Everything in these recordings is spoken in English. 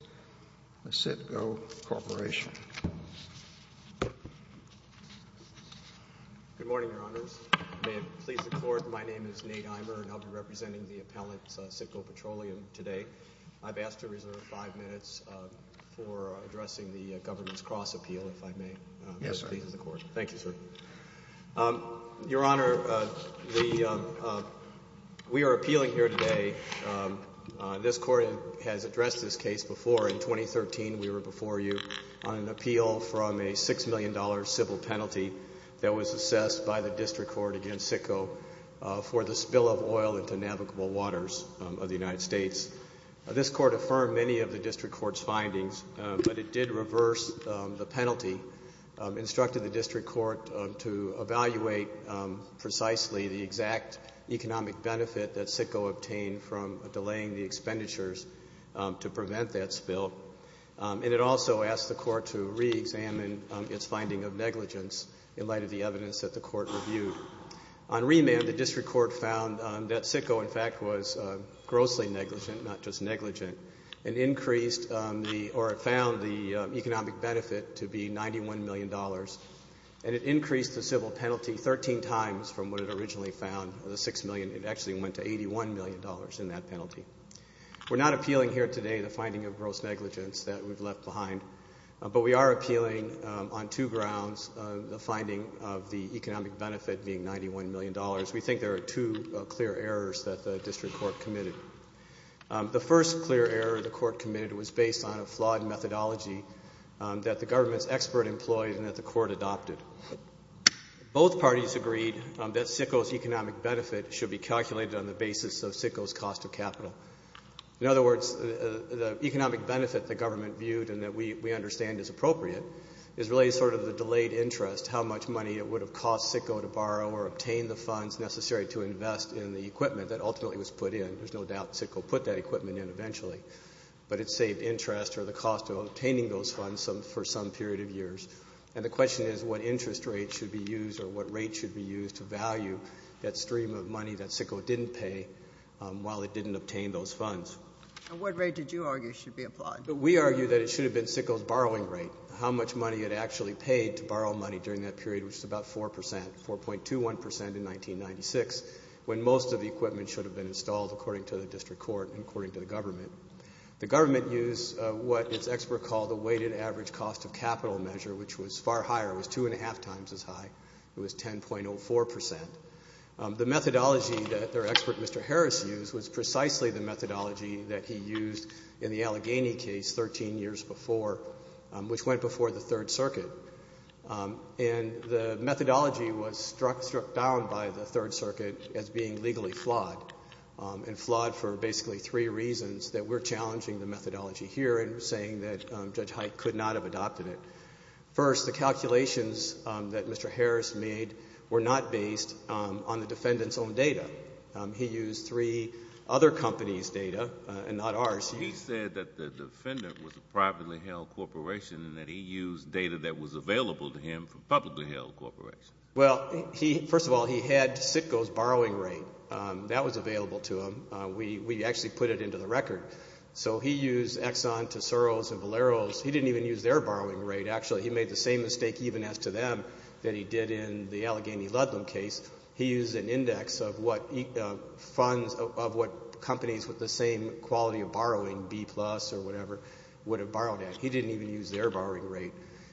Good morning, Your Honors. May it please the Court, my name is Nate Eimer and I'll be representing the appellant, CITGO Petroleum, today. I've asked to reserve five minutes for addressing the Governance Cross-Appeal, if I may. Yes, sir. Thank you, sir. Your Honor, we are appealing here today. This Court has addressed this case before. In 2013, we were before you on an appeal from a $6 million civil penalty that was assessed by the District Court against CITGO for the spill of oil into navigable waters of the United States. This Court affirmed many of the District Court's findings, but it did reverse the penalty, instructed the delaying the expenditures to prevent that spill, and it also asked the Court to reexamine its finding of negligence in light of the evidence that the Court reviewed. On remand, the District Court found that CITGO, in fact, was grossly negligent, not just negligent, and increased the, or it found the economic benefit to be $91 million, and it increased the civil penalty 13 times from what it originally found, the $6 million. It actually went to $81 million in that penalty. We're not appealing here today the finding of gross negligence that we've left behind, but we are appealing on two grounds, the finding of the economic benefit being $91 million. We think there are two clear errors that the District Court committed. The first clear error the Court committed was based on a flawed methodology that the Government's expert employed and that the Court adopted. Both parties agreed that CITGO's economic benefit should be calculated on the basis of CITGO's cost of capital. In other words, the economic benefit the Government viewed and that we understand is appropriate is really sort of the delayed interest, how much money it would have cost CITGO to borrow or obtain the funds necessary to invest in the equipment that ultimately was put in. There's no doubt CITGO put that equipment in eventually, but it saved interest or the cost of obtaining those funds for some period of years. And the question is what interest rate should be used or what rate should be used to value that stream of money that CITGO didn't pay while it didn't obtain those funds. And what rate did you argue should be applied? We argue that it should have been CITGO's borrowing rate, how much money it actually paid to borrow money during that period, which is about 4%, 4.21% in 1996, when most of the equipment should have been installed according to the District Court and according to the Government. The Government used what its expert called the weighted average cost of capital measure, which was far higher. It was two and a half times as high. It was 10.04%. The methodology that their expert, Mr. Harris, used was precisely the methodology that he used in the Allegheny case 13 years before, which went before the Third Circuit. And the methodology was struck down by the Third Circuit as being legally flawed and flawed for basically three reasons that we're challenging the methodology here and saying that Judge Pike could not have adopted it. First, the calculations that Mr. Harris made were not based on the defendant's own data. He used three other companies' data and not ours. He said that the defendant was a privately held corporation and that he used data that was available to him from publicly held corporations. Well, first of all, he had CITGO's borrowing rate. That was available to him. We actually put it into the record. So he used Exxon, Tesoros, and Valeros. He didn't even use their borrowing rate, actually. He made the same mistake even as to them that he did in the Allegheny-Ludlum case. He used an index of what funds of what companies with the same quality of borrowing, B plus or whatever, would have borrowed at. He didn't even use their borrowing rate.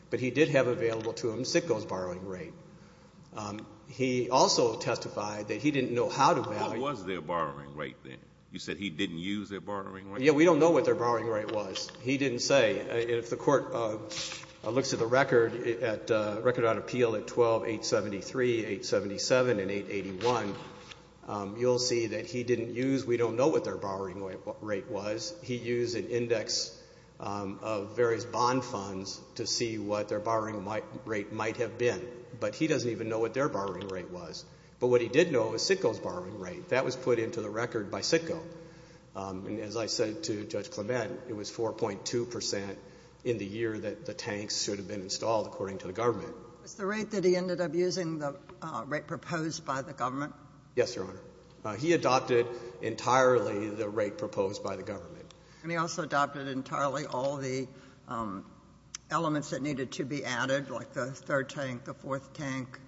But he did have available to him CITGO's borrowing rate. He also testified that he didn't know how to value What was their borrowing rate then? You said he didn't use their borrowing rate? Yeah, we don't know what their borrowing rate was. He didn't say. If the court looks at the record on appeal at 12-873, 877, and 881, you'll see that he didn't use, we don't know what their borrowing rate was. He used an index of various bond funds to see what their borrowing rate might have been. But he doesn't even know what their borrowing rate was. But what he did know was CITGO's borrowing rate. That was put into the record by CITGO. And as I said to Judge Clement, it was 4.2% in the year that the tanks should have been installed, according to the government. Was the rate that he ended up using the rate proposed by the government? Yes, Your Honor. He adopted entirely the rate proposed by the government. And he also adopted entirely all the elements that needed to be added, like the third tank, the fourth tank.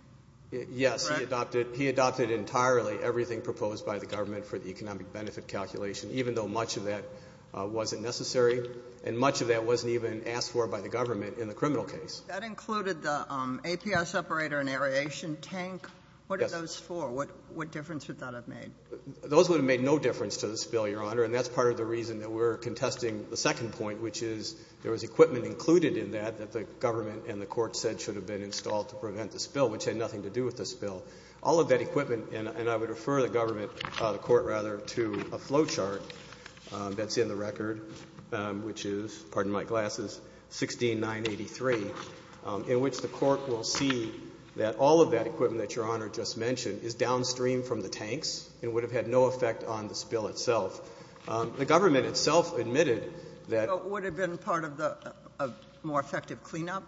Yes, he adopted entirely everything proposed by the government for the economic benefit calculation, even though much of that wasn't necessary. And much of that wasn't even asked for by the government in the criminal case. That included the APS operator and aeration tank. What are those for? What difference would that have made? Those would have made no difference to this bill, Your Honor. And that's part of the reason that we're contesting the second point, which is there was equipment included in that that the government and the court said should have been installed to prevent the spill, which had nothing to do with the spill. All of that equipment, and I would refer the government, the court rather, to a flow chart that's in the record, which is, pardon my glasses, 16983, in which the court will see that all of that equipment that Your Honor just mentioned is downstream from the tanks and would have had no effect on the spill itself. The government itself admitted that So it would have been part of the more effective cleanup?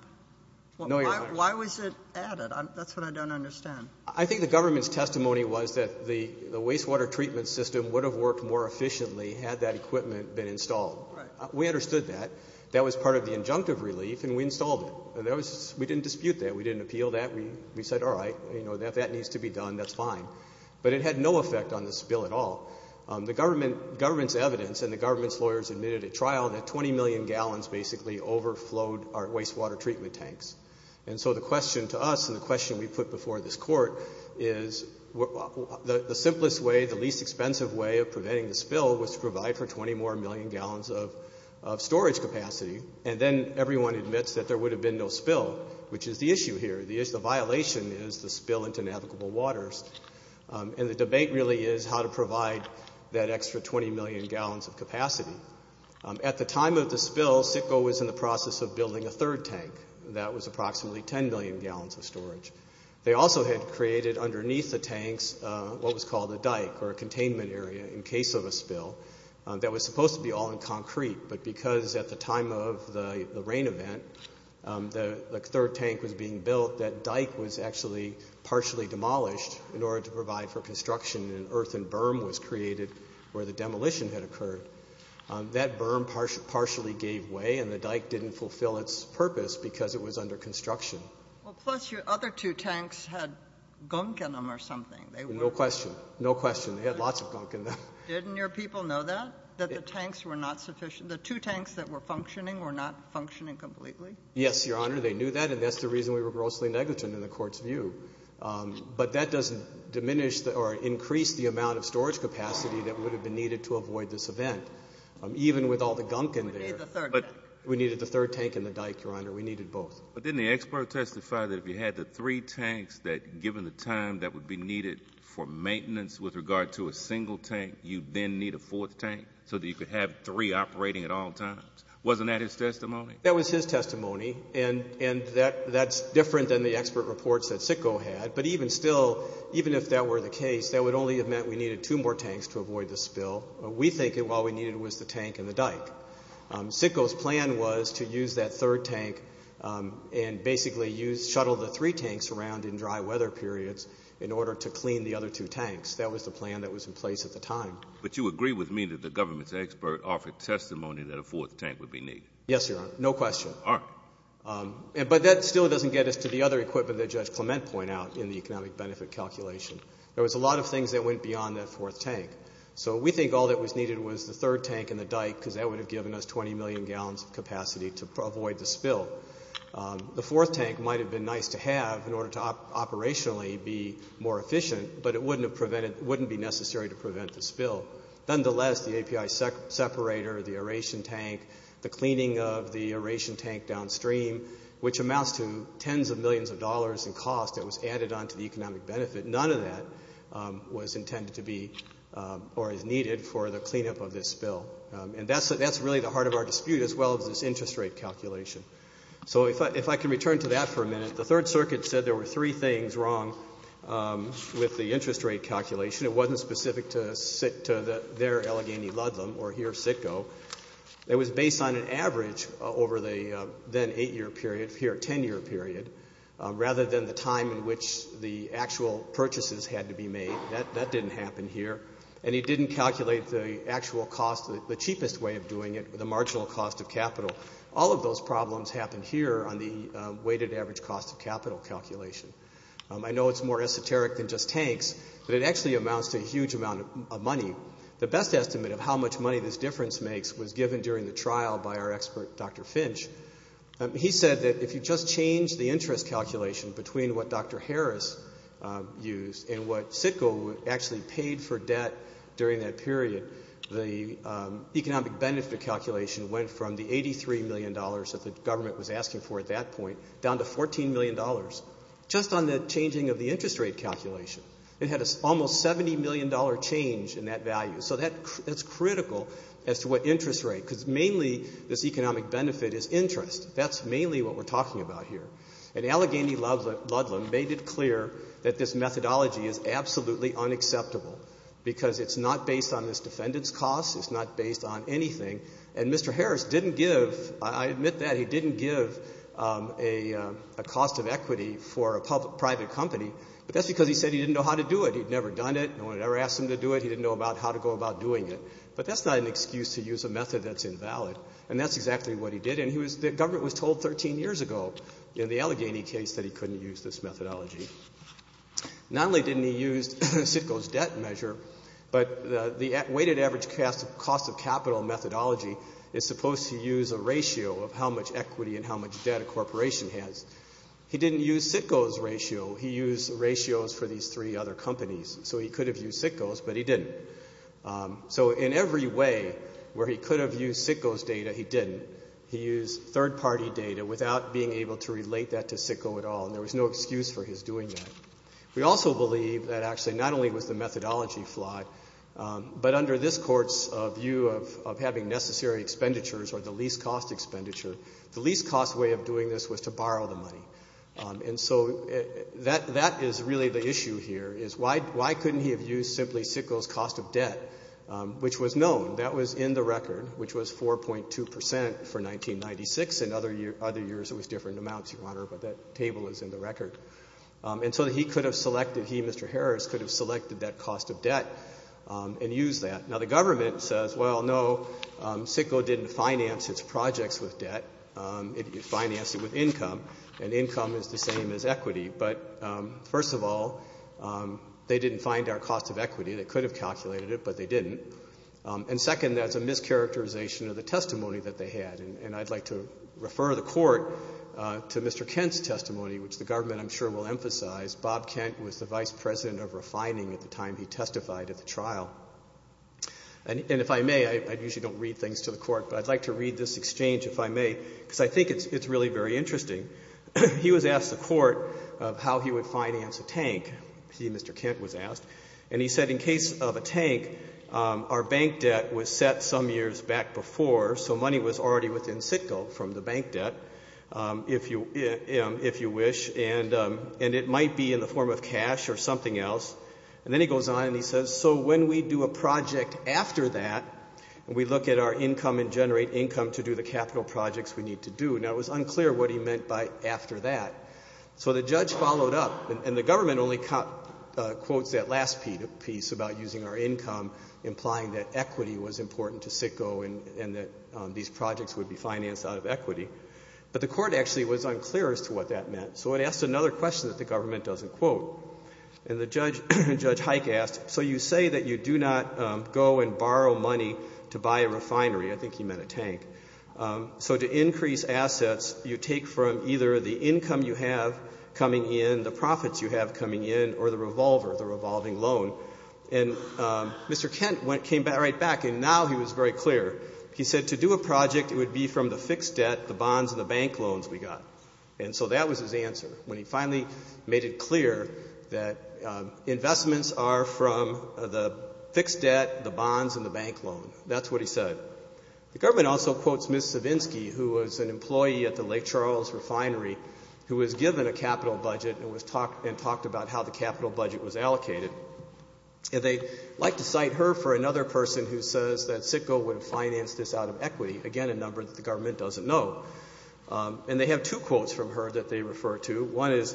No, Your Honor. Why was it added? That's what I don't understand. I think the government's testimony was that the wastewater treatment system would have worked more efficiently had that equipment been installed. Right. We understood that. That was part of the injunctive relief, and we installed it. We didn't dispute that. We didn't appeal that. We said, all right, if that needs to be done, that's fine. But it had no effect on the spill at all. The government's evidence and the government's lawyers admitted at trial that 20 million gallons basically overflowed our wastewater treatment tanks. And so the question to us and the question we put before this court is the simplest way, the least expensive way of preventing the spill was to provide for 20 more million gallons of storage capacity. And then everyone admits that there would have been no spill, which is the issue here. The violation is the spill into navigable waters. And the debate really is how to provide that extra 20 million gallons of capacity. At the time of the spill, SITCO was in the process of building a third tank that was approximately 10 million gallons of storage. They also had created underneath the tanks what was called a dike or a containment area in case of a spill that was supposed to be all in concrete. But because at the time of the rain event, the third tank was being built, that dike was actually partially demolished in order to provide for construction and an earthen berm was created where the demolition had occurred. That berm partially gave way and the dike didn't fulfill its purpose because it was under construction. Well, plus your other two tanks had gunk in them or something. No question. No question. They had lots of gunk in them. Didn't your people know that? That the tanks were not sufficient? The two tanks that were functioning were not functioning completely? Yes, Your Honor, they knew that. And that's the reason we were grossly negligent in the court's view. But that doesn't diminish or increase the amount of storage capacity that would have been needed to avoid this event. Even with all the gunk in there. We needed the third tank. We needed the third tank and the dike, Your Honor. We needed both. But didn't the expert testify that if you had the three tanks that given the time that would be needed for maintenance with regard to a single tank, you'd then need a fourth tank so that you could have three operating at all times? Wasn't that his testimony? That was his testimony. And that's different than the expert reports that Sitko had. But even still, even if that were the case, that would only have meant we needed two more tanks to avoid the spill. We think that all we needed was the tank and the dike. Sitko's plan was to use that third tank and basically shuttle the three tanks around in dry weather periods in order to clean the other two tanks. That was the plan that was in place at the time. But you agree with me that the government's expert offered testimony that a fourth tank would be needed? Yes, Your Honor. No question. All right. But that still doesn't get us to the other equipment that Judge Clement pointed out in the economic benefit calculation. There was a lot of things that went beyond that fourth tank. So we think all that was needed was the third tank and the dike because that would have given us 20 million gallons of capacity to avoid the spill. The fourth tank might have been nice to have in order to operationally be more efficient, but it wouldn't be necessary to prevent the spill. Nonetheless, the API separator, the aeration tank, the cleaning of the aeration tank downstream, which amounts to tens of millions of dollars in cost that was added onto the economic benefit, none of that was intended to be or is needed for the cleanup of this spill. And that's really the heart of our dispute as well as this interest rate calculation. So if I can return to that for a minute. The Third Circuit said there were three things wrong with the interest rate calculation. It wasn't specific to their Allegheny Ludlam or here, Sitco. It was based on an average over the then eight-year period, here, ten-year period, rather than the time in which the actual purchases had to be made. That didn't happen here. And it didn't calculate the actual cost, the cheapest way of doing it, the marginal cost of capital. All of those problems happen here on the weighted average cost of capital calculation. I know it's more esoteric than just tanks, but it actually amounts to a huge amount of money. The best estimate of how much money this difference makes was given during the trial by our expert, Dr. Finch. He said that if you just change the interest calculation between what Dr. Harris used and what Sitco actually paid for debt during that period, the economic benefit calculation went from the $83 million that the government was asking for at that point down to $14 million just on the changing of the interest rate calculation. It had an almost $70 million change in that value. So that's critical as to what interest rate, because mainly this economic benefit is interest. That's mainly what we're talking about here. And Allegheny Ludlam made it clear that this methodology is absolutely unacceptable because it's not based on this defendant's cost. It's not based on anything. And Mr. Harris didn't give, I admit that, he didn't give a cost of equity for a private company, but that's because he said he didn't know how to do it. He'd never done it. No one had ever asked him to do it. He didn't know about how to go about doing it. But that's not an excuse to use a method that's invalid, and that's exactly what he did. And the government was told 13 years ago in the Allegheny case that he couldn't use this methodology. Not only didn't he use Sitko's debt measure, but the weighted average cost of capital methodology is supposed to use a ratio of how much equity and how much debt a corporation has. He didn't use Sitko's ratio. He used ratios for these three other companies. So he could have used Sitko's, but he didn't. So in every way where he could have used Sitko's data, he didn't. He used third-party data without being able to relate that to Sitko at all, and there was no excuse for his doing that. We also believe that actually not only was the methodology flawed, but under this court's view of having necessary expenditures or the least-cost expenditure, the least-cost way of doing this was to borrow the money. And so that is really the issue here is why couldn't he have used simply Sitko's cost of debt, which was known. That was in the record, which was 4.2% for 1996. In other years it was different amounts, Your Honor, but that table is in the record. And so he could have selected, he, Mr. Harris, could have selected that cost of debt and used that. Now, the government says, well, no, Sitko didn't finance its projects with debt. It financed it with income, and income is the same as equity. But first of all, they didn't find our cost of equity. They could have calculated it, but they didn't. And second, that's a mischaracterization of the testimony that they had, and I'd like to refer the court to Mr. Kent's testimony, which the government, I'm sure, will emphasize. Bob Kent was the vice president of refining at the time he testified at the trial. And if I may, I usually don't read things to the court, but I'd like to read this exchange, if I may, because I think it's really very interesting. He was asked the court how he would finance a tank, he, Mr. Kent, was asked, and he said, in case of a tank, our bank debt was set some years back before, so money was already within Sitko from the bank debt, if you wish, and it might be in the form of cash or something else. And then he goes on and he says, so when we do a project after that, we look at our income and generate income to do the capital projects we need to do. Now, it was unclear what he meant by after that. So the judge followed up, and the government only quotes that last piece about using our income, implying that equity was important to Sitko and that these projects would be financed out of equity. But the court actually was unclear as to what that meant, so it asked another question that the government doesn't quote. And Judge Hike asked, so you say that you do not go and borrow money to buy a refinery. I think he meant a tank. So to increase assets, you take from either the income you have coming in, the profits you have coming in, or the revolver, the revolving loan. And Mr. Kent came right back, and now he was very clear. He said to do a project, it would be from the fixed debt, the bonds, and the bank loans we got. And so that was his answer when he finally made it clear that investments are from the fixed debt, the bonds, and the bank loan. That's what he said. The government also quotes Ms. Savinsky, who was an employee at the Lake Charles Refinery, who was given a capital budget and talked about how the capital budget was allocated. And they like to cite her for another person who says that Sitko would have financed this out of equity, again, a number that the government doesn't know. And they have two quotes from her that they refer to. One is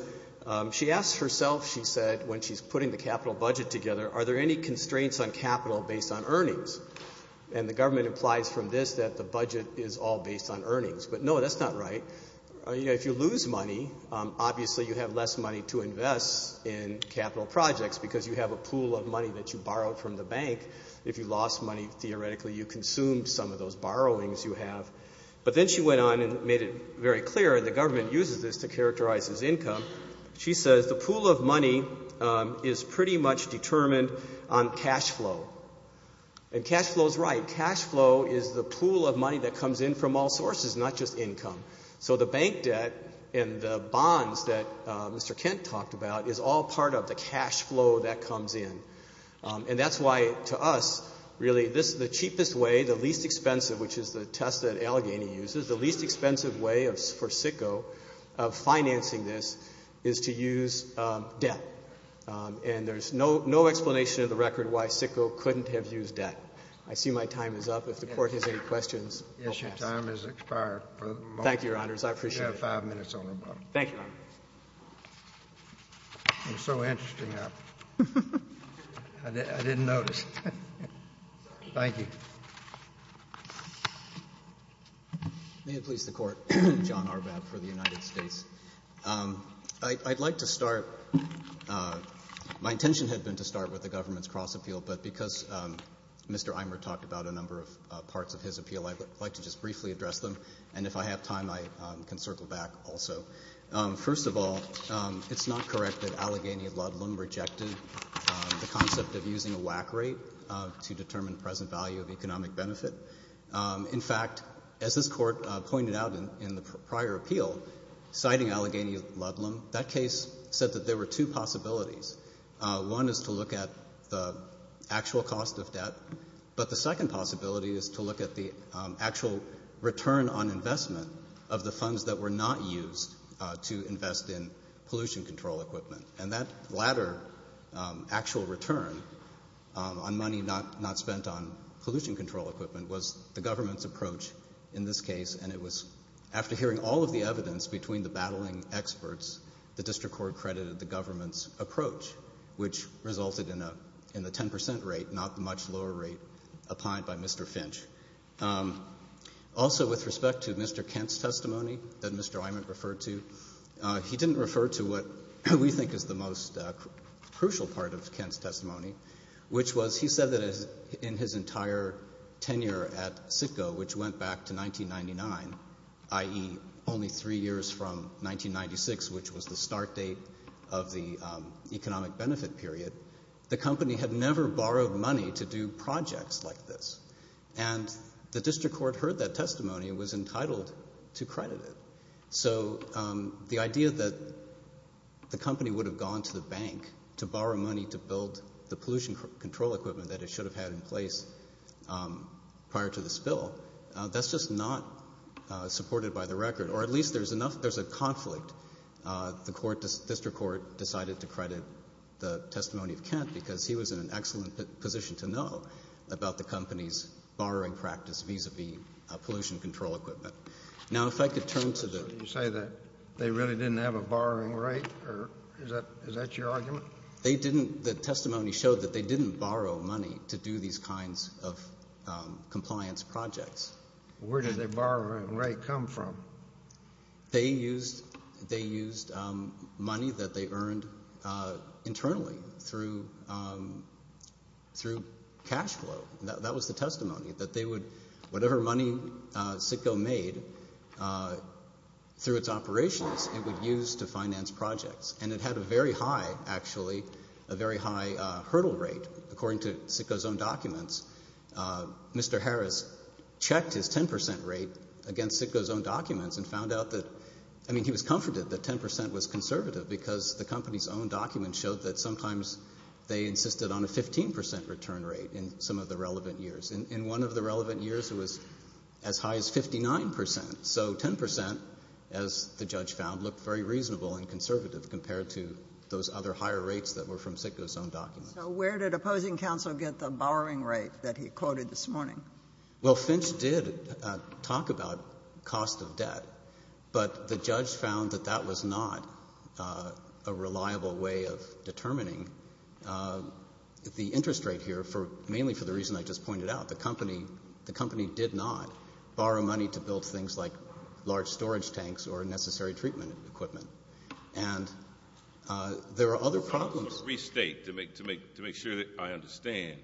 she asks herself, she said, when she's putting the capital budget together, are there any constraints on capital based on earnings? And the government implies from this that the budget is all based on earnings. But no, that's not right. If you lose money, obviously you have less money to invest in capital projects because you have a pool of money that you borrowed from the bank. If you lost money, theoretically you consumed some of those borrowings you have. But then she went on and made it very clear, and the government uses this to characterize its income. She says the pool of money is pretty much determined on cash flow. And cash flow is right. Cash flow is the pool of money that comes in from all sources, not just income. So the bank debt and the bonds that Mr. Kent talked about is all part of the cash flow that comes in. And that's why to us, really, the cheapest way, the least expensive, which is the test that Allegheny uses, the least expensive way for Sitko of financing this is to use debt. And there's no explanation of the record why Sitko couldn't have used debt. I see my time is up. If the Court has any questions, we'll pass. Your time has expired. Thank you, Your Honors. I appreciate it. You have five minutes on the button. Thank you, Your Honor. I'm so interested in that. I didn't notice. Thank you. May it please the Court. John Arbab for the United States. I'd like to start. My intention had been to start with the government's cross-appeal, but because Mr. Eimer talked about a number of parts of his appeal, I'd like to just briefly address them. And if I have time, I can circle back also. First of all, it's not correct that Allegheny of Ludlum rejected the concept of using a whack rate to determine present value of economic benefit. In fact, as this Court pointed out in the prior appeal, citing Allegheny of Ludlum, that case said that there were two possibilities. One is to look at the actual cost of debt, but the second possibility is to look at the actual return on investment of the funds that were not used to invest in pollution control equipment. And that latter actual return on money not spent on pollution control equipment was the government's approach in this case, and it was after hearing all of the evidence between the battling experts, the District Court credited the government's approach, which resulted in a 10 percent rate, not the much lower rate applied by Mr. Finch. Also, with respect to Mr. Kent's testimony that Mr. Eimer referred to, he didn't refer to what we think is the most crucial part of Kent's testimony, which was he said that in his entire tenure at Citgo, which went back to 1999, i.e. only three years from 1996, which was the start date of the economic benefit period, the company had never borrowed money to do projects like this. And the District Court heard that testimony and was entitled to credit it. So the idea that the company would have gone to the bank to borrow money to build the pollution control equipment that it should have had in place prior to the spill, that's just not supported by the record, or at least there's a conflict. The District Court decided to credit the testimony of Kent because he was in an excellent position to know about the company's borrowing practice vis-a-vis pollution control equipment. Now, if I could turn to the— So you say that they really didn't have a borrowing rate, or is that your argument? They didn't. The testimony showed that they didn't borrow money to do these kinds of compliance projects. Where did their borrowing rate come from? They used money that they earned internally through cash flow. That was the testimony, that they would—whatever money CITGO made through its operations, it would use to finance projects. And it had a very high, actually, a very high hurdle rate. According to CITGO's own documents, Mr. Harris checked his 10 percent rate against CITGO's own documents and found out that—I mean, he was comforted that 10 percent was conservative because the company's own documents showed that sometimes they insisted on a 15 percent return rate in some of the relevant years. In one of the relevant years, it was as high as 59 percent. So 10 percent, as the judge found, looked very reasonable and conservative compared to those other higher rates that were from CITGO's own documents. So where did opposing counsel get the borrowing rate that he quoted this morning? Well, Finch did talk about cost of debt, but the judge found that that was not a reliable way of determining the interest rate here, mainly for the reason I just pointed out. The company did not borrow money to build things like large storage tanks or necessary treatment equipment. And there are other problems— To restate, to make sure that I understand,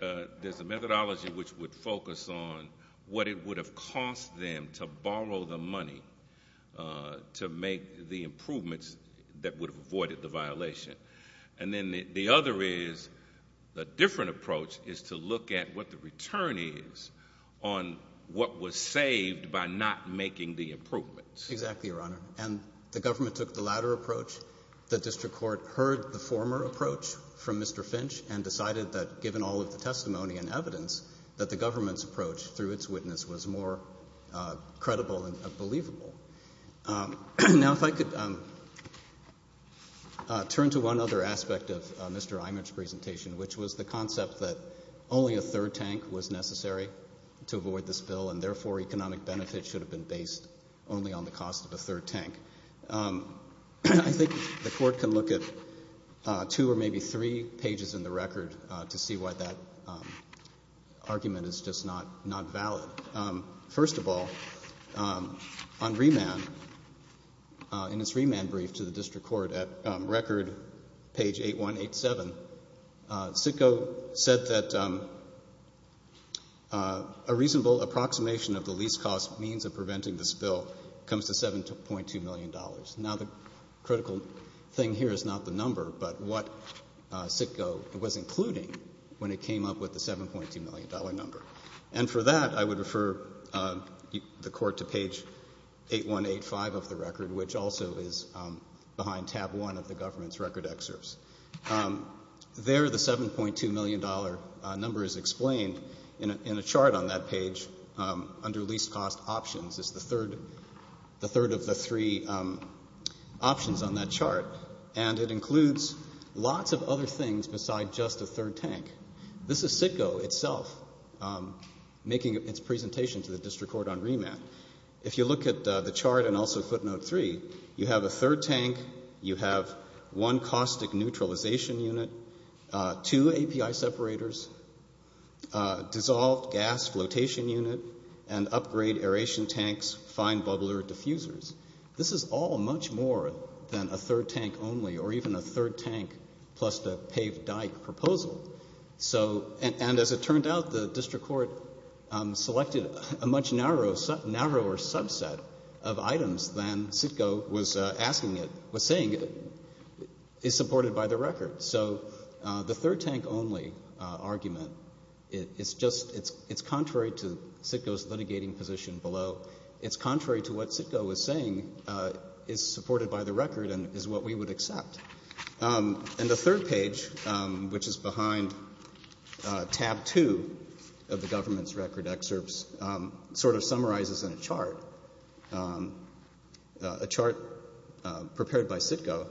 there's a methodology which would focus on what it would have cost them to borrow the money to make the improvements that would have avoided the violation. And then the other is—a different approach is to look at what the return is on what was saved by not making the improvements. Exactly, Your Honor. And the government took the latter approach. The district court heard the former approach from Mr. Finch and decided that given all of the testimony and evidence, that the government's approach through its witness was more credible and believable. Now if I could turn to one other aspect of Mr. Imert's presentation, which was the concept that only a third tank was necessary to avoid the spill and therefore economic benefits should have been based only on the cost of a third tank. I think the court can look at two or maybe three pages in the record to see why that argument is just not valid. First of all, on remand, in its remand brief to the district court, at record page 8187, Sitko said that a reasonable approximation of the least cost means of preventing the spill comes to $7.2 million. Now the critical thing here is not the number, but what Sitko was including when it came up with the $7.2 million number. And for that, I would refer the court to page 8185 of the record, which also is behind tab one of the government's record excerpts. There the $7.2 million number is explained in a chart on that page under least cost options. It's the third of the three options on that chart, and it includes lots of other things besides just a third tank. This is Sitko itself making its presentation to the district court on remand. If you look at the chart and also footnote three, you have a third tank, you have one caustic neutralization unit, two API separators, dissolved gas flotation unit, and upgrade aeration tanks, fine bubbler diffusers. This is all much more than a third tank only or even a third tank plus the paved dike proposal. And as it turned out, the district court selected a much narrower subset of items than Sitko was saying is supported by the record. So the third tank only argument, it's contrary to Sitko's litigating position below. It's contrary to what Sitko was saying is supported by the record and is what we would accept. And the third page, which is behind tab two of the government's record excerpts, sort of summarizes in a chart, a chart prepared by Sitko.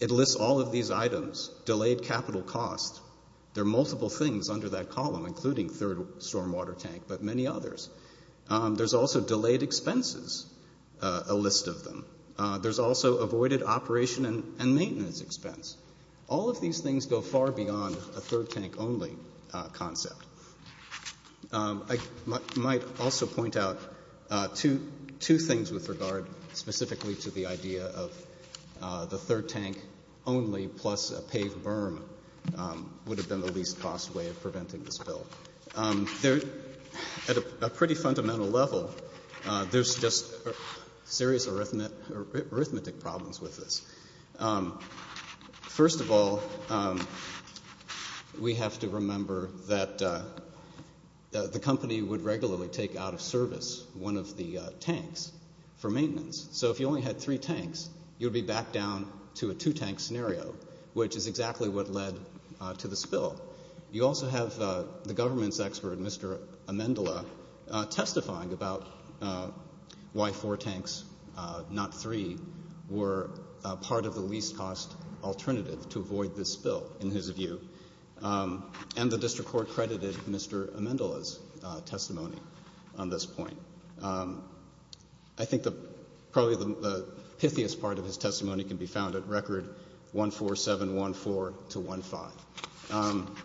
It lists all of these items, delayed capital costs. There are multiple things under that column, including third stormwater tank, but many others. There's also delayed expenses, a list of them. There's also avoided operation and maintenance expense. All of these things go far beyond a third tank only concept. I might also point out two things with regard specifically to the idea of the third tank only plus a paved berm would have been the least cost way of preventing the spill. At a pretty fundamental level, there's just serious arithmetic problems with this. First of all, we have to remember that the company would regularly take out of service one of the tanks for maintenance. So if you only had three tanks, you'd be back down to a two-tank scenario, which is exactly what led to the spill. You also have the government's expert, Mr. Amendola, testifying about why four tanks, not three, were part of the least cost alternative to avoid the spill, in his view. And the district court credited Mr. Amendola's testimony on this point. I think probably the pithiest part of his testimony can be found at record 14714 to 15.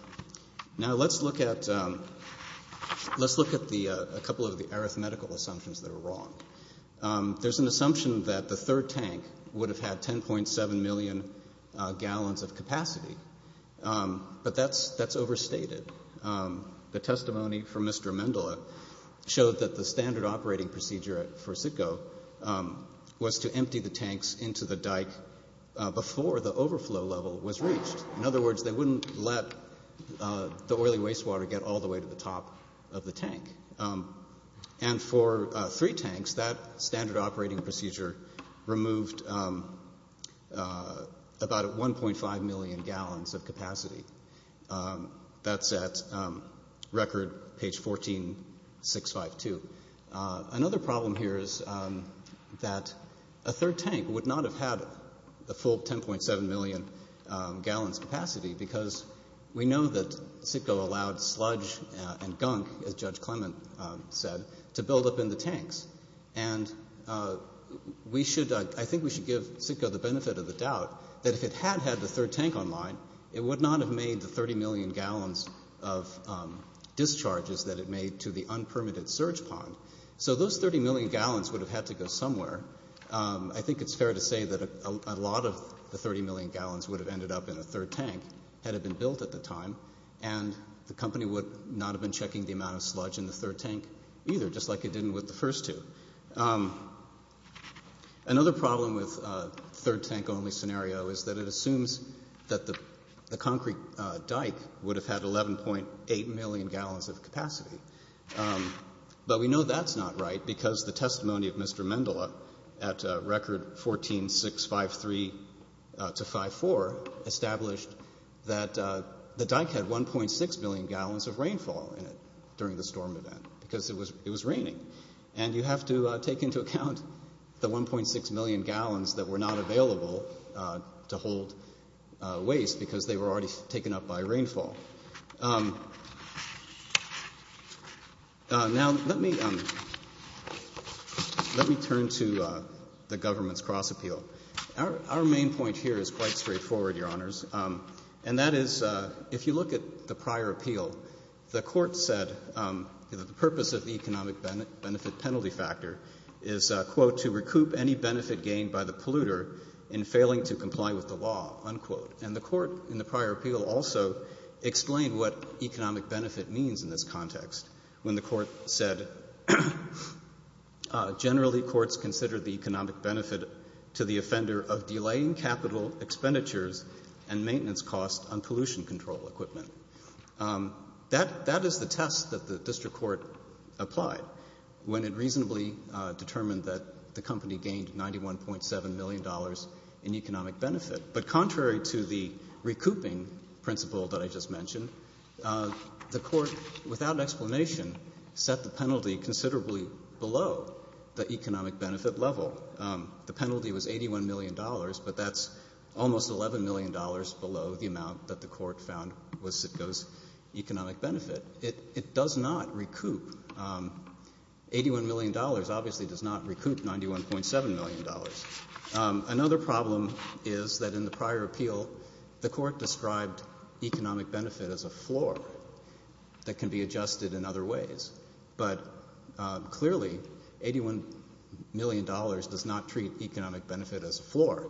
Now let's look at a couple of the arithmetical assumptions that are wrong. There's an assumption that the third tank would have had 10.7 million gallons of capacity, but that's overstated. The testimony from Mr. Amendola showed that the standard operating procedure for Sitco was to empty the tanks into the dike before the overflow level was reached. In other words, they wouldn't let the oily wastewater get all the way to the top of the tank. And for three tanks, that standard operating procedure removed about 1.5 million gallons of capacity. That's at record page 14652. Another problem here is that a third tank would not have had the full 10.7 million gallons capacity because we know that Sitco allowed sludge and gunk, as Judge Clement said, to build up in the tanks. And I think we should give Sitco the benefit of the doubt that if it had had the third tank online, it would not have made the 30 million gallons of discharges that it made to the unpermitted surge pond. So those 30 million gallons would have had to go somewhere. I think it's fair to say that a lot of the 30 million gallons would have ended up in a third tank had it been built at the time, and the company would not have been checking the amount of sludge in the third tank either, just like it didn't with the first two. Another problem with a third tank only scenario is that it assumes that the concrete dike would have had 11.8 million gallons of capacity. But we know that's not right because the testimony of Mr. Mendele at record 14653-54 established that the dike had 1.6 million gallons of rainfall in it during the storm event because it was raining. And you have to take into account the 1.6 million gallons that were not available to hold waste because they were already taken up by rainfall. Now, let me turn to the government's cross appeal. Our main point here is quite straightforward, Your Honors, and that is if you look at the prior appeal, the court said that the purpose of the economic benefit penalty factor is, quote, to recoup any benefit gained by the polluter in failing to comply with the law, unquote. And the court in the prior appeal also explained what economic benefit means in this context when the court said generally courts consider the economic benefit to the offender of delaying capital expenditures and maintenance costs on pollution control equipment. That is the test that the district court applied when it reasonably determined that the company gained $91.7 million in economic benefit. But contrary to the recouping principle that I just mentioned, the court without explanation set the penalty considerably below the economic benefit level. The penalty was $81 million, but that's almost $11 million below the amount that the court found was Sitko's economic benefit. It does not recoup. $81 million obviously does not recoup $91.7 million. Another problem is that in the prior appeal, the court described economic benefit as a floor that can be adjusted in other ways. But clearly $81 million does not treat economic benefit as a floor.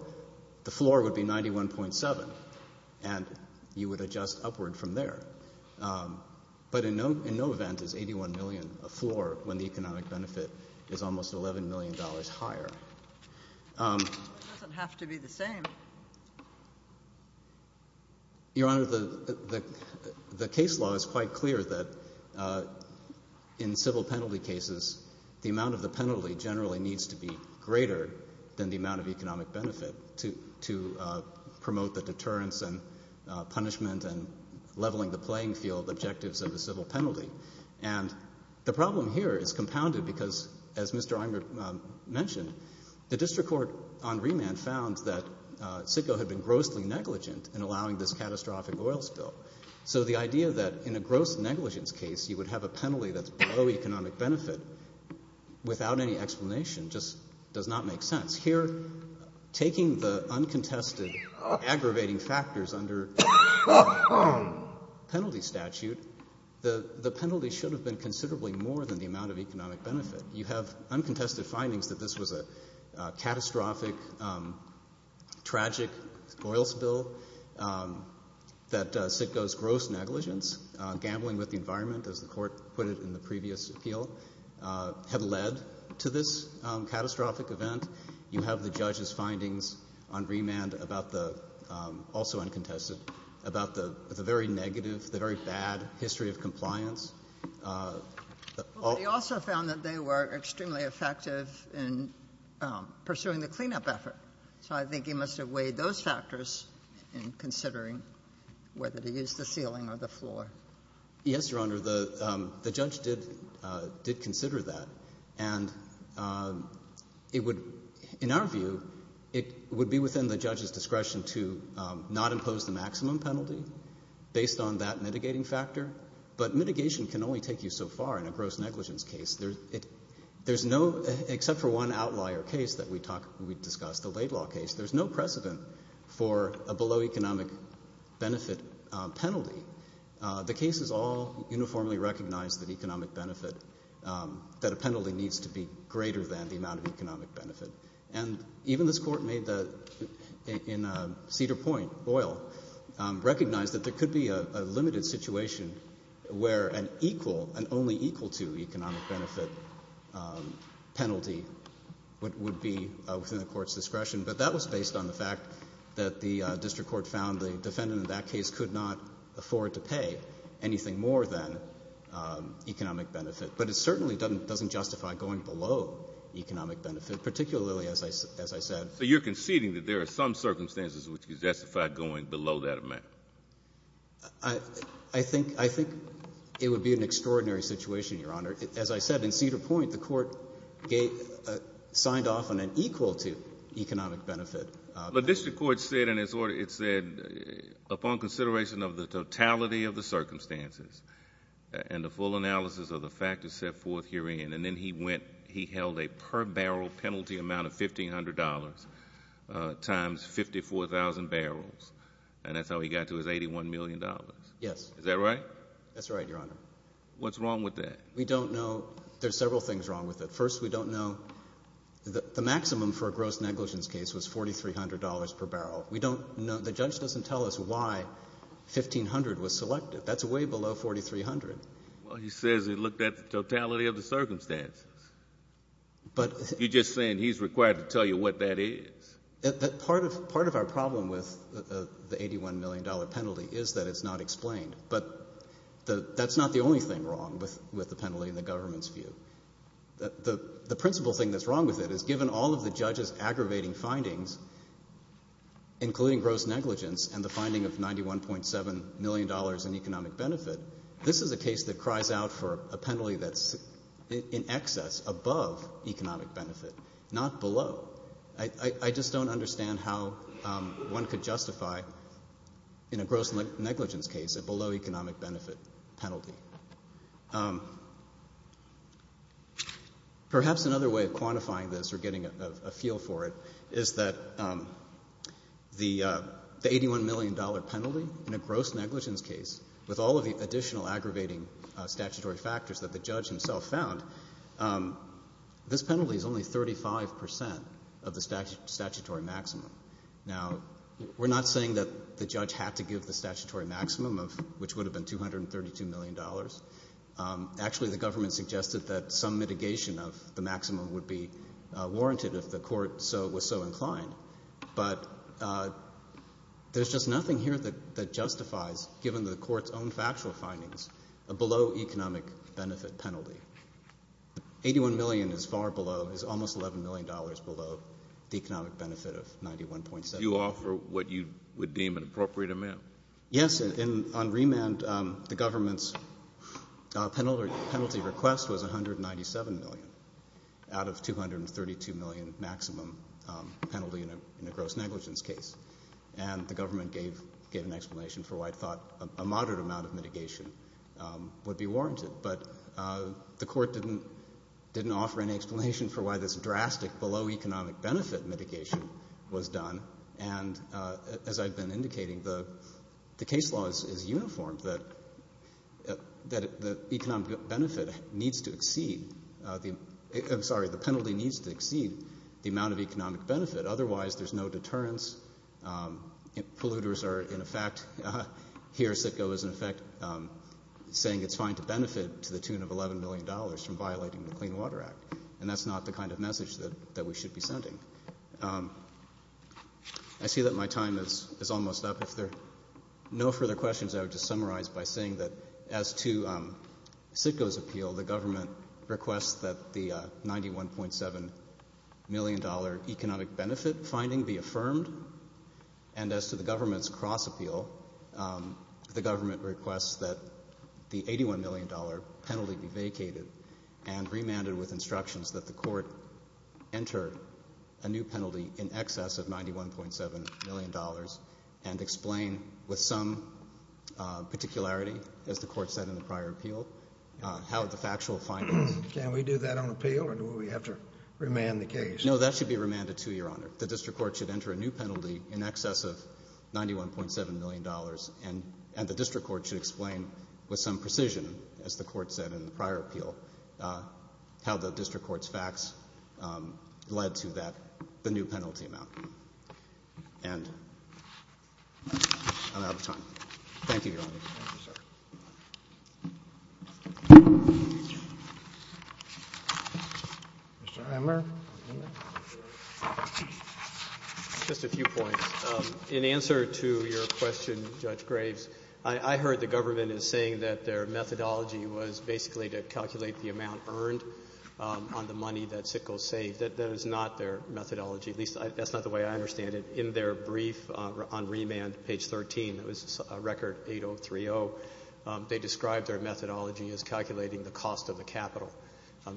The floor would be $91.7 million, and you would adjust upward from there. But in no event is $81 million a floor when the economic benefit is almost $11 million higher. It doesn't have to be the same. Your Honor, the case law is quite clear that in civil penalty cases, the amount of the penalty generally needs to be greater than the amount of economic benefit to promote the deterrence and punishment and leveling the playing field objectives of the civil penalty. And the problem here is compounded because, as Mr. Imert mentioned, the district court on remand found that Sitko had been grossly negligent in allowing this catastrophic oil spill. So the idea that in a gross negligence case you would have a penalty that's below economic benefit without any explanation just does not make sense. Here, taking the uncontested aggravating factors under penalty statute, the penalty should have been considerably more than the amount of economic benefit. You have uncontested findings that this was a catastrophic, tragic oil spill, that Sitko's gross negligence, gambling with the environment, as the Court put it in the previous appeal, had led to this catastrophic event. You have the judge's findings on remand about the very negative, the very bad history of compliance. But he also found that they were extremely effective in pursuing the cleanup effort, so I think he must have weighed those factors in considering whether to use the ceiling or the floor. Yes, Your Honor. The judge did consider that, and it would, in our view, it would be within the judge's discretion to not impose the maximum penalty based on that mitigating factor. But mitigation can only take you so far in a gross negligence case. There's no, except for one outlier case that we discussed, the Laidlaw case, there's no precedent for a below economic benefit penalty. The case is all uniformly recognized that economic benefit, that a penalty needs to be greater than the amount of economic benefit. And even this Court made the, in Cedar Point, Boyle, recognized that there could be a limited situation where an equal, an only equal to economic benefit penalty would be within the Court's discretion. But that was based on the fact that the district court found the defendant in that case could not afford to pay anything more than economic benefit. But it certainly doesn't justify going below economic benefit, particularly, as I said. So you're conceding that there are some circumstances which could justify going below that amount? I think it would be an extraordinary situation, Your Honor. As I said, in Cedar Point, the Court signed off on an equal to economic benefit. The district court said in its order, it said, upon consideration of the totality of the circumstances and the full analysis of the factors set forth herein, and then he went, he held a per barrel penalty amount of $1,500 times 54,000 barrels. And that's how he got to his $81 million. Yes. Is that right? That's right, Your Honor. What's wrong with that? We don't know. There's several things wrong with it. First, we don't know the maximum for a gross negligence case was $4,300 per barrel. We don't know. The judge doesn't tell us why $1,500 was selected. That's way below $4,300. Well, he says he looked at the totality of the circumstances. You're just saying he's required to tell you what that is. Part of our problem with the $81 million penalty is that it's not explained. But that's not the only thing wrong with the penalty in the government's view. The principal thing that's wrong with it is given all of the judge's aggravating findings, including gross negligence and the finding of $91.7 million in economic benefit, this is a case that cries out for a penalty that's in excess above economic benefit, not below. I just don't understand how one could justify in a gross negligence case a below economic benefit penalty. Perhaps another way of quantifying this or getting a feel for it is that the $81 million penalty in a gross negligence case, with all of the additional aggravating statutory factors that the judge himself found, this penalty is only 35 percent of the statutory maximum. Now, we're not saying that the judge had to give the statutory maximum, which would have been $232 million. Actually, the government suggested that some mitigation of the maximum would be warranted if the court was so inclined. But there's just nothing here that justifies, given the court's own factual findings, a below economic benefit penalty. $81 million is far below, is almost $11 million below the economic benefit of $91.7 million. Do you offer what you would deem an appropriate amount? Yes. On remand, the government's penalty request was $197 million out of $232 million maximum penalty in a gross negligence case. And the government gave an explanation for why it thought a moderate amount of mitigation would be warranted. But the court didn't offer any explanation for why this drastic below economic benefit mitigation was done. And as I've been indicating, the case law is uniform, that the economic benefit needs to exceed, I'm sorry, the penalty needs to exceed the amount of economic benefit. Otherwise, there's no deterrence. Polluters are, in effect, here CITGO is, in effect, saying it's fine to benefit to the tune of $11 million from violating the Clean Water Act. And that's not the kind of message that we should be sending. I see that my time is almost up. If there are no further questions, I would just summarize by saying that as to CITGO's appeal, the government requests that the $91.7 million economic benefit finding be affirmed. And as to the government's cross-appeal, the government requests that the $81 million penalty be vacated and remanded with instructions that the court enter a new penalty in excess of $91.7 million and explain with some particularity, as the court said in the prior appeal, how the factual findings. Can we do that on appeal, or do we have to remand the case? No, that should be remanded to you, Your Honor. The district court should enter a new penalty in excess of $91.7 million, and the district court should explain with some precision, as the court said in the prior appeal, how the district court's facts led to the new penalty amount. And I'm out of time. Thank you, Your Honor. Thank you, sir. Mr. Emmer? Just a few points. In answer to your question, Judge Graves, I heard the government is saying that their methodology was basically to calculate the amount earned on the money that CITGO saved. That is not their methodology, at least that's not the way I understand it. In their brief on remand, page 13, that was record 8030, they described their methodology as calculating the cost of the capital.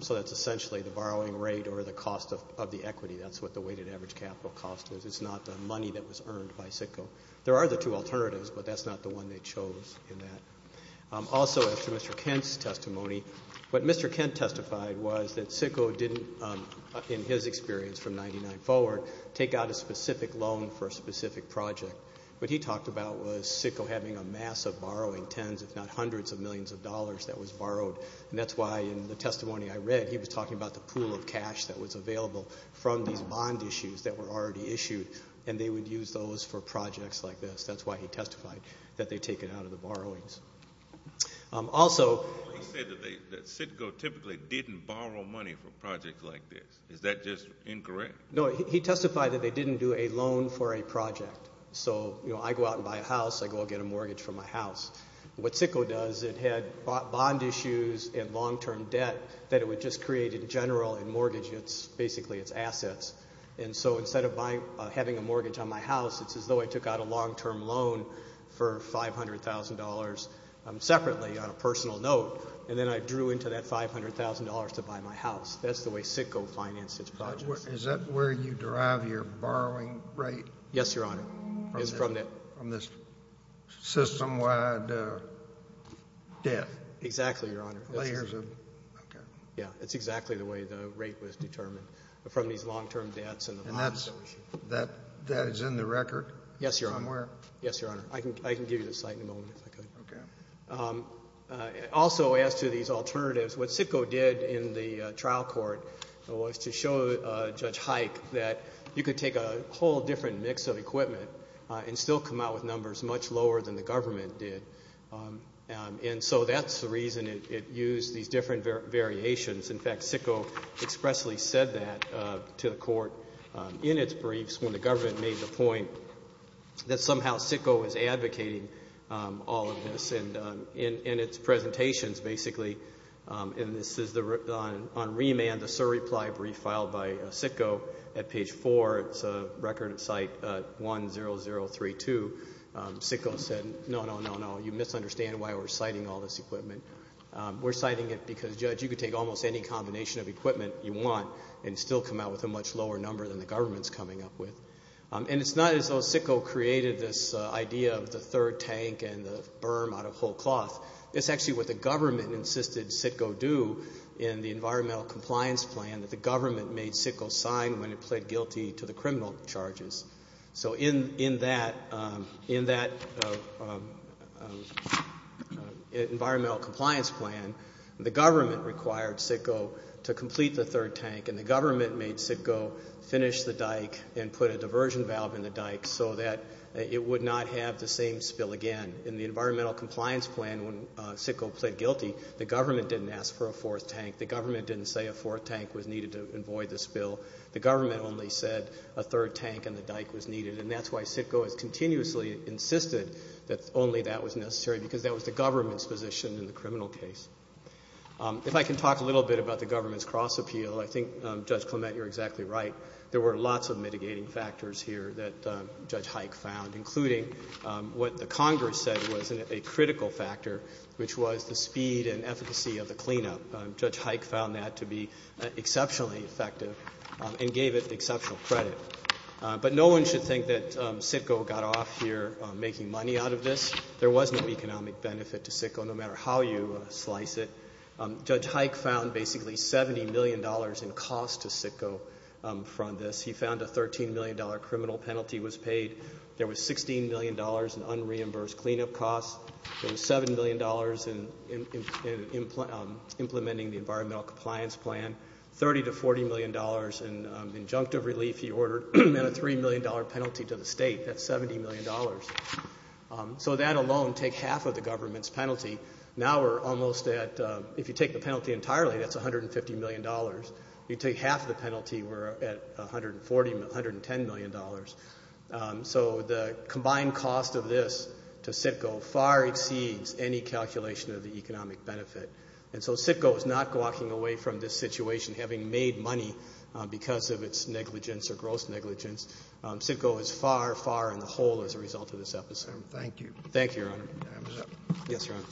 So that's essentially the borrowing rate or the cost of the equity. That's what the weighted average capital cost is. It's not the money that was earned by CITGO. There are the two alternatives, but that's not the one they chose in that. Also, as to Mr. Kent's testimony, what Mr. Kent testified was that CITGO didn't, in his experience from 1999 forward, take out a specific loan for a specific project. What he talked about was CITGO having a massive borrowing, tens if not hundreds of millions of dollars that was borrowed. And that's why in the testimony I read, he was talking about the pool of cash that was available from these bond issues that were already issued, and they would use those for projects like this. That's why he testified that they take it out of the borrowings. Also- He said that CITGO typically didn't borrow money for projects like this. Is that just incorrect? No, he testified that they didn't do a loan for a project. So I go out and buy a house. I go out and get a mortgage for my house. What CITGO does, it had bond issues and long-term debt that it would just create in general and mortgage basically its assets. And so instead of having a mortgage on my house, it's as though I took out a long-term loan for $500,000 separately on a personal note, and then I drew into that $500,000 to buy my house. That's the way CITGO financed its projects. Is that where you derive your borrowing rate? Yes, Your Honor. It's from this system-wide debt? Exactly, Your Honor. Layers of, okay. Yeah, it's exactly the way the rate was determined from these long-term debts and the bond issue. And that is in the record somewhere? Yes, Your Honor. Yes, Your Honor. I can give you the site in a moment, if that's okay. Okay. Also, as to these alternatives, what CITGO did in the trial court was to show Judge Hike that you could take a whole different mix of equipment and still come out with numbers much lower than the government did. And so that's the reason it used these different variations. In fact, CITGO expressly said that to the court in its briefs when the government made the point that somehow CITGO was advocating all of this. And in its presentations, basically, and this is on remand, the surreply brief filed by CITGO at page 4. It's a record at site 10032. CITGO said, no, no, no, no, you misunderstand why we're citing all this equipment. We're citing it because, Judge, you could take almost any combination of equipment you want and still come out with a much lower number than the government's coming up with. And it's not as though CITGO created this idea of the third tank and the berm out of whole cloth. It's actually what the government insisted CITGO do in the environmental compliance plan that the government made CITGO sign when it pled guilty to the criminal charges. So in that environmental compliance plan, the government required CITGO to complete the third tank, and the government made CITGO finish the dike and put a diversion valve in the dike so that it would not have the same spill again. In the environmental compliance plan, when CITGO pled guilty, the government didn't ask for a fourth tank. The government didn't say a fourth tank was needed to avoid the spill. The government only said a third tank in the dike was needed, and that's why CITGO has continuously insisted that only that was necessary, because that was the government's position in the criminal case. If I can talk a little bit about the government's cross appeal, I think, Judge Clement, you're exactly right. There were lots of mitigating factors here that Judge Hike found, including what the Congress said was a critical factor, which was the speed and efficacy of the cleanup. Judge Hike found that to be exceptionally effective and gave it exceptional credit. But no one should think that CITGO got off here making money out of this. There was no economic benefit to CITGO, no matter how you slice it. Judge Hike found basically $70 million in costs to CITGO from this. He found a $13 million criminal penalty was paid. There was $16 million in unreimbursed cleanup costs. There was $7 million in implementing the environmental compliance plan, $30 to $40 million in injunctive relief. He ordered a $3 million penalty to the state. That's $70 million. So that alone takes half of the government's penalty. Now we're almost at, if you take the penalty entirely, that's $150 million. If you take half the penalty, we're at $140 million, $110 million. So the combined cost of this to CITGO far exceeds any calculation of the economic benefit. And so CITGO is not walking away from this situation having made money because of its negligence or gross negligence. CITGO is far, far in the hole as a result of this episode. Thank you. Thank you, Your Honor. Yes, Your Honor.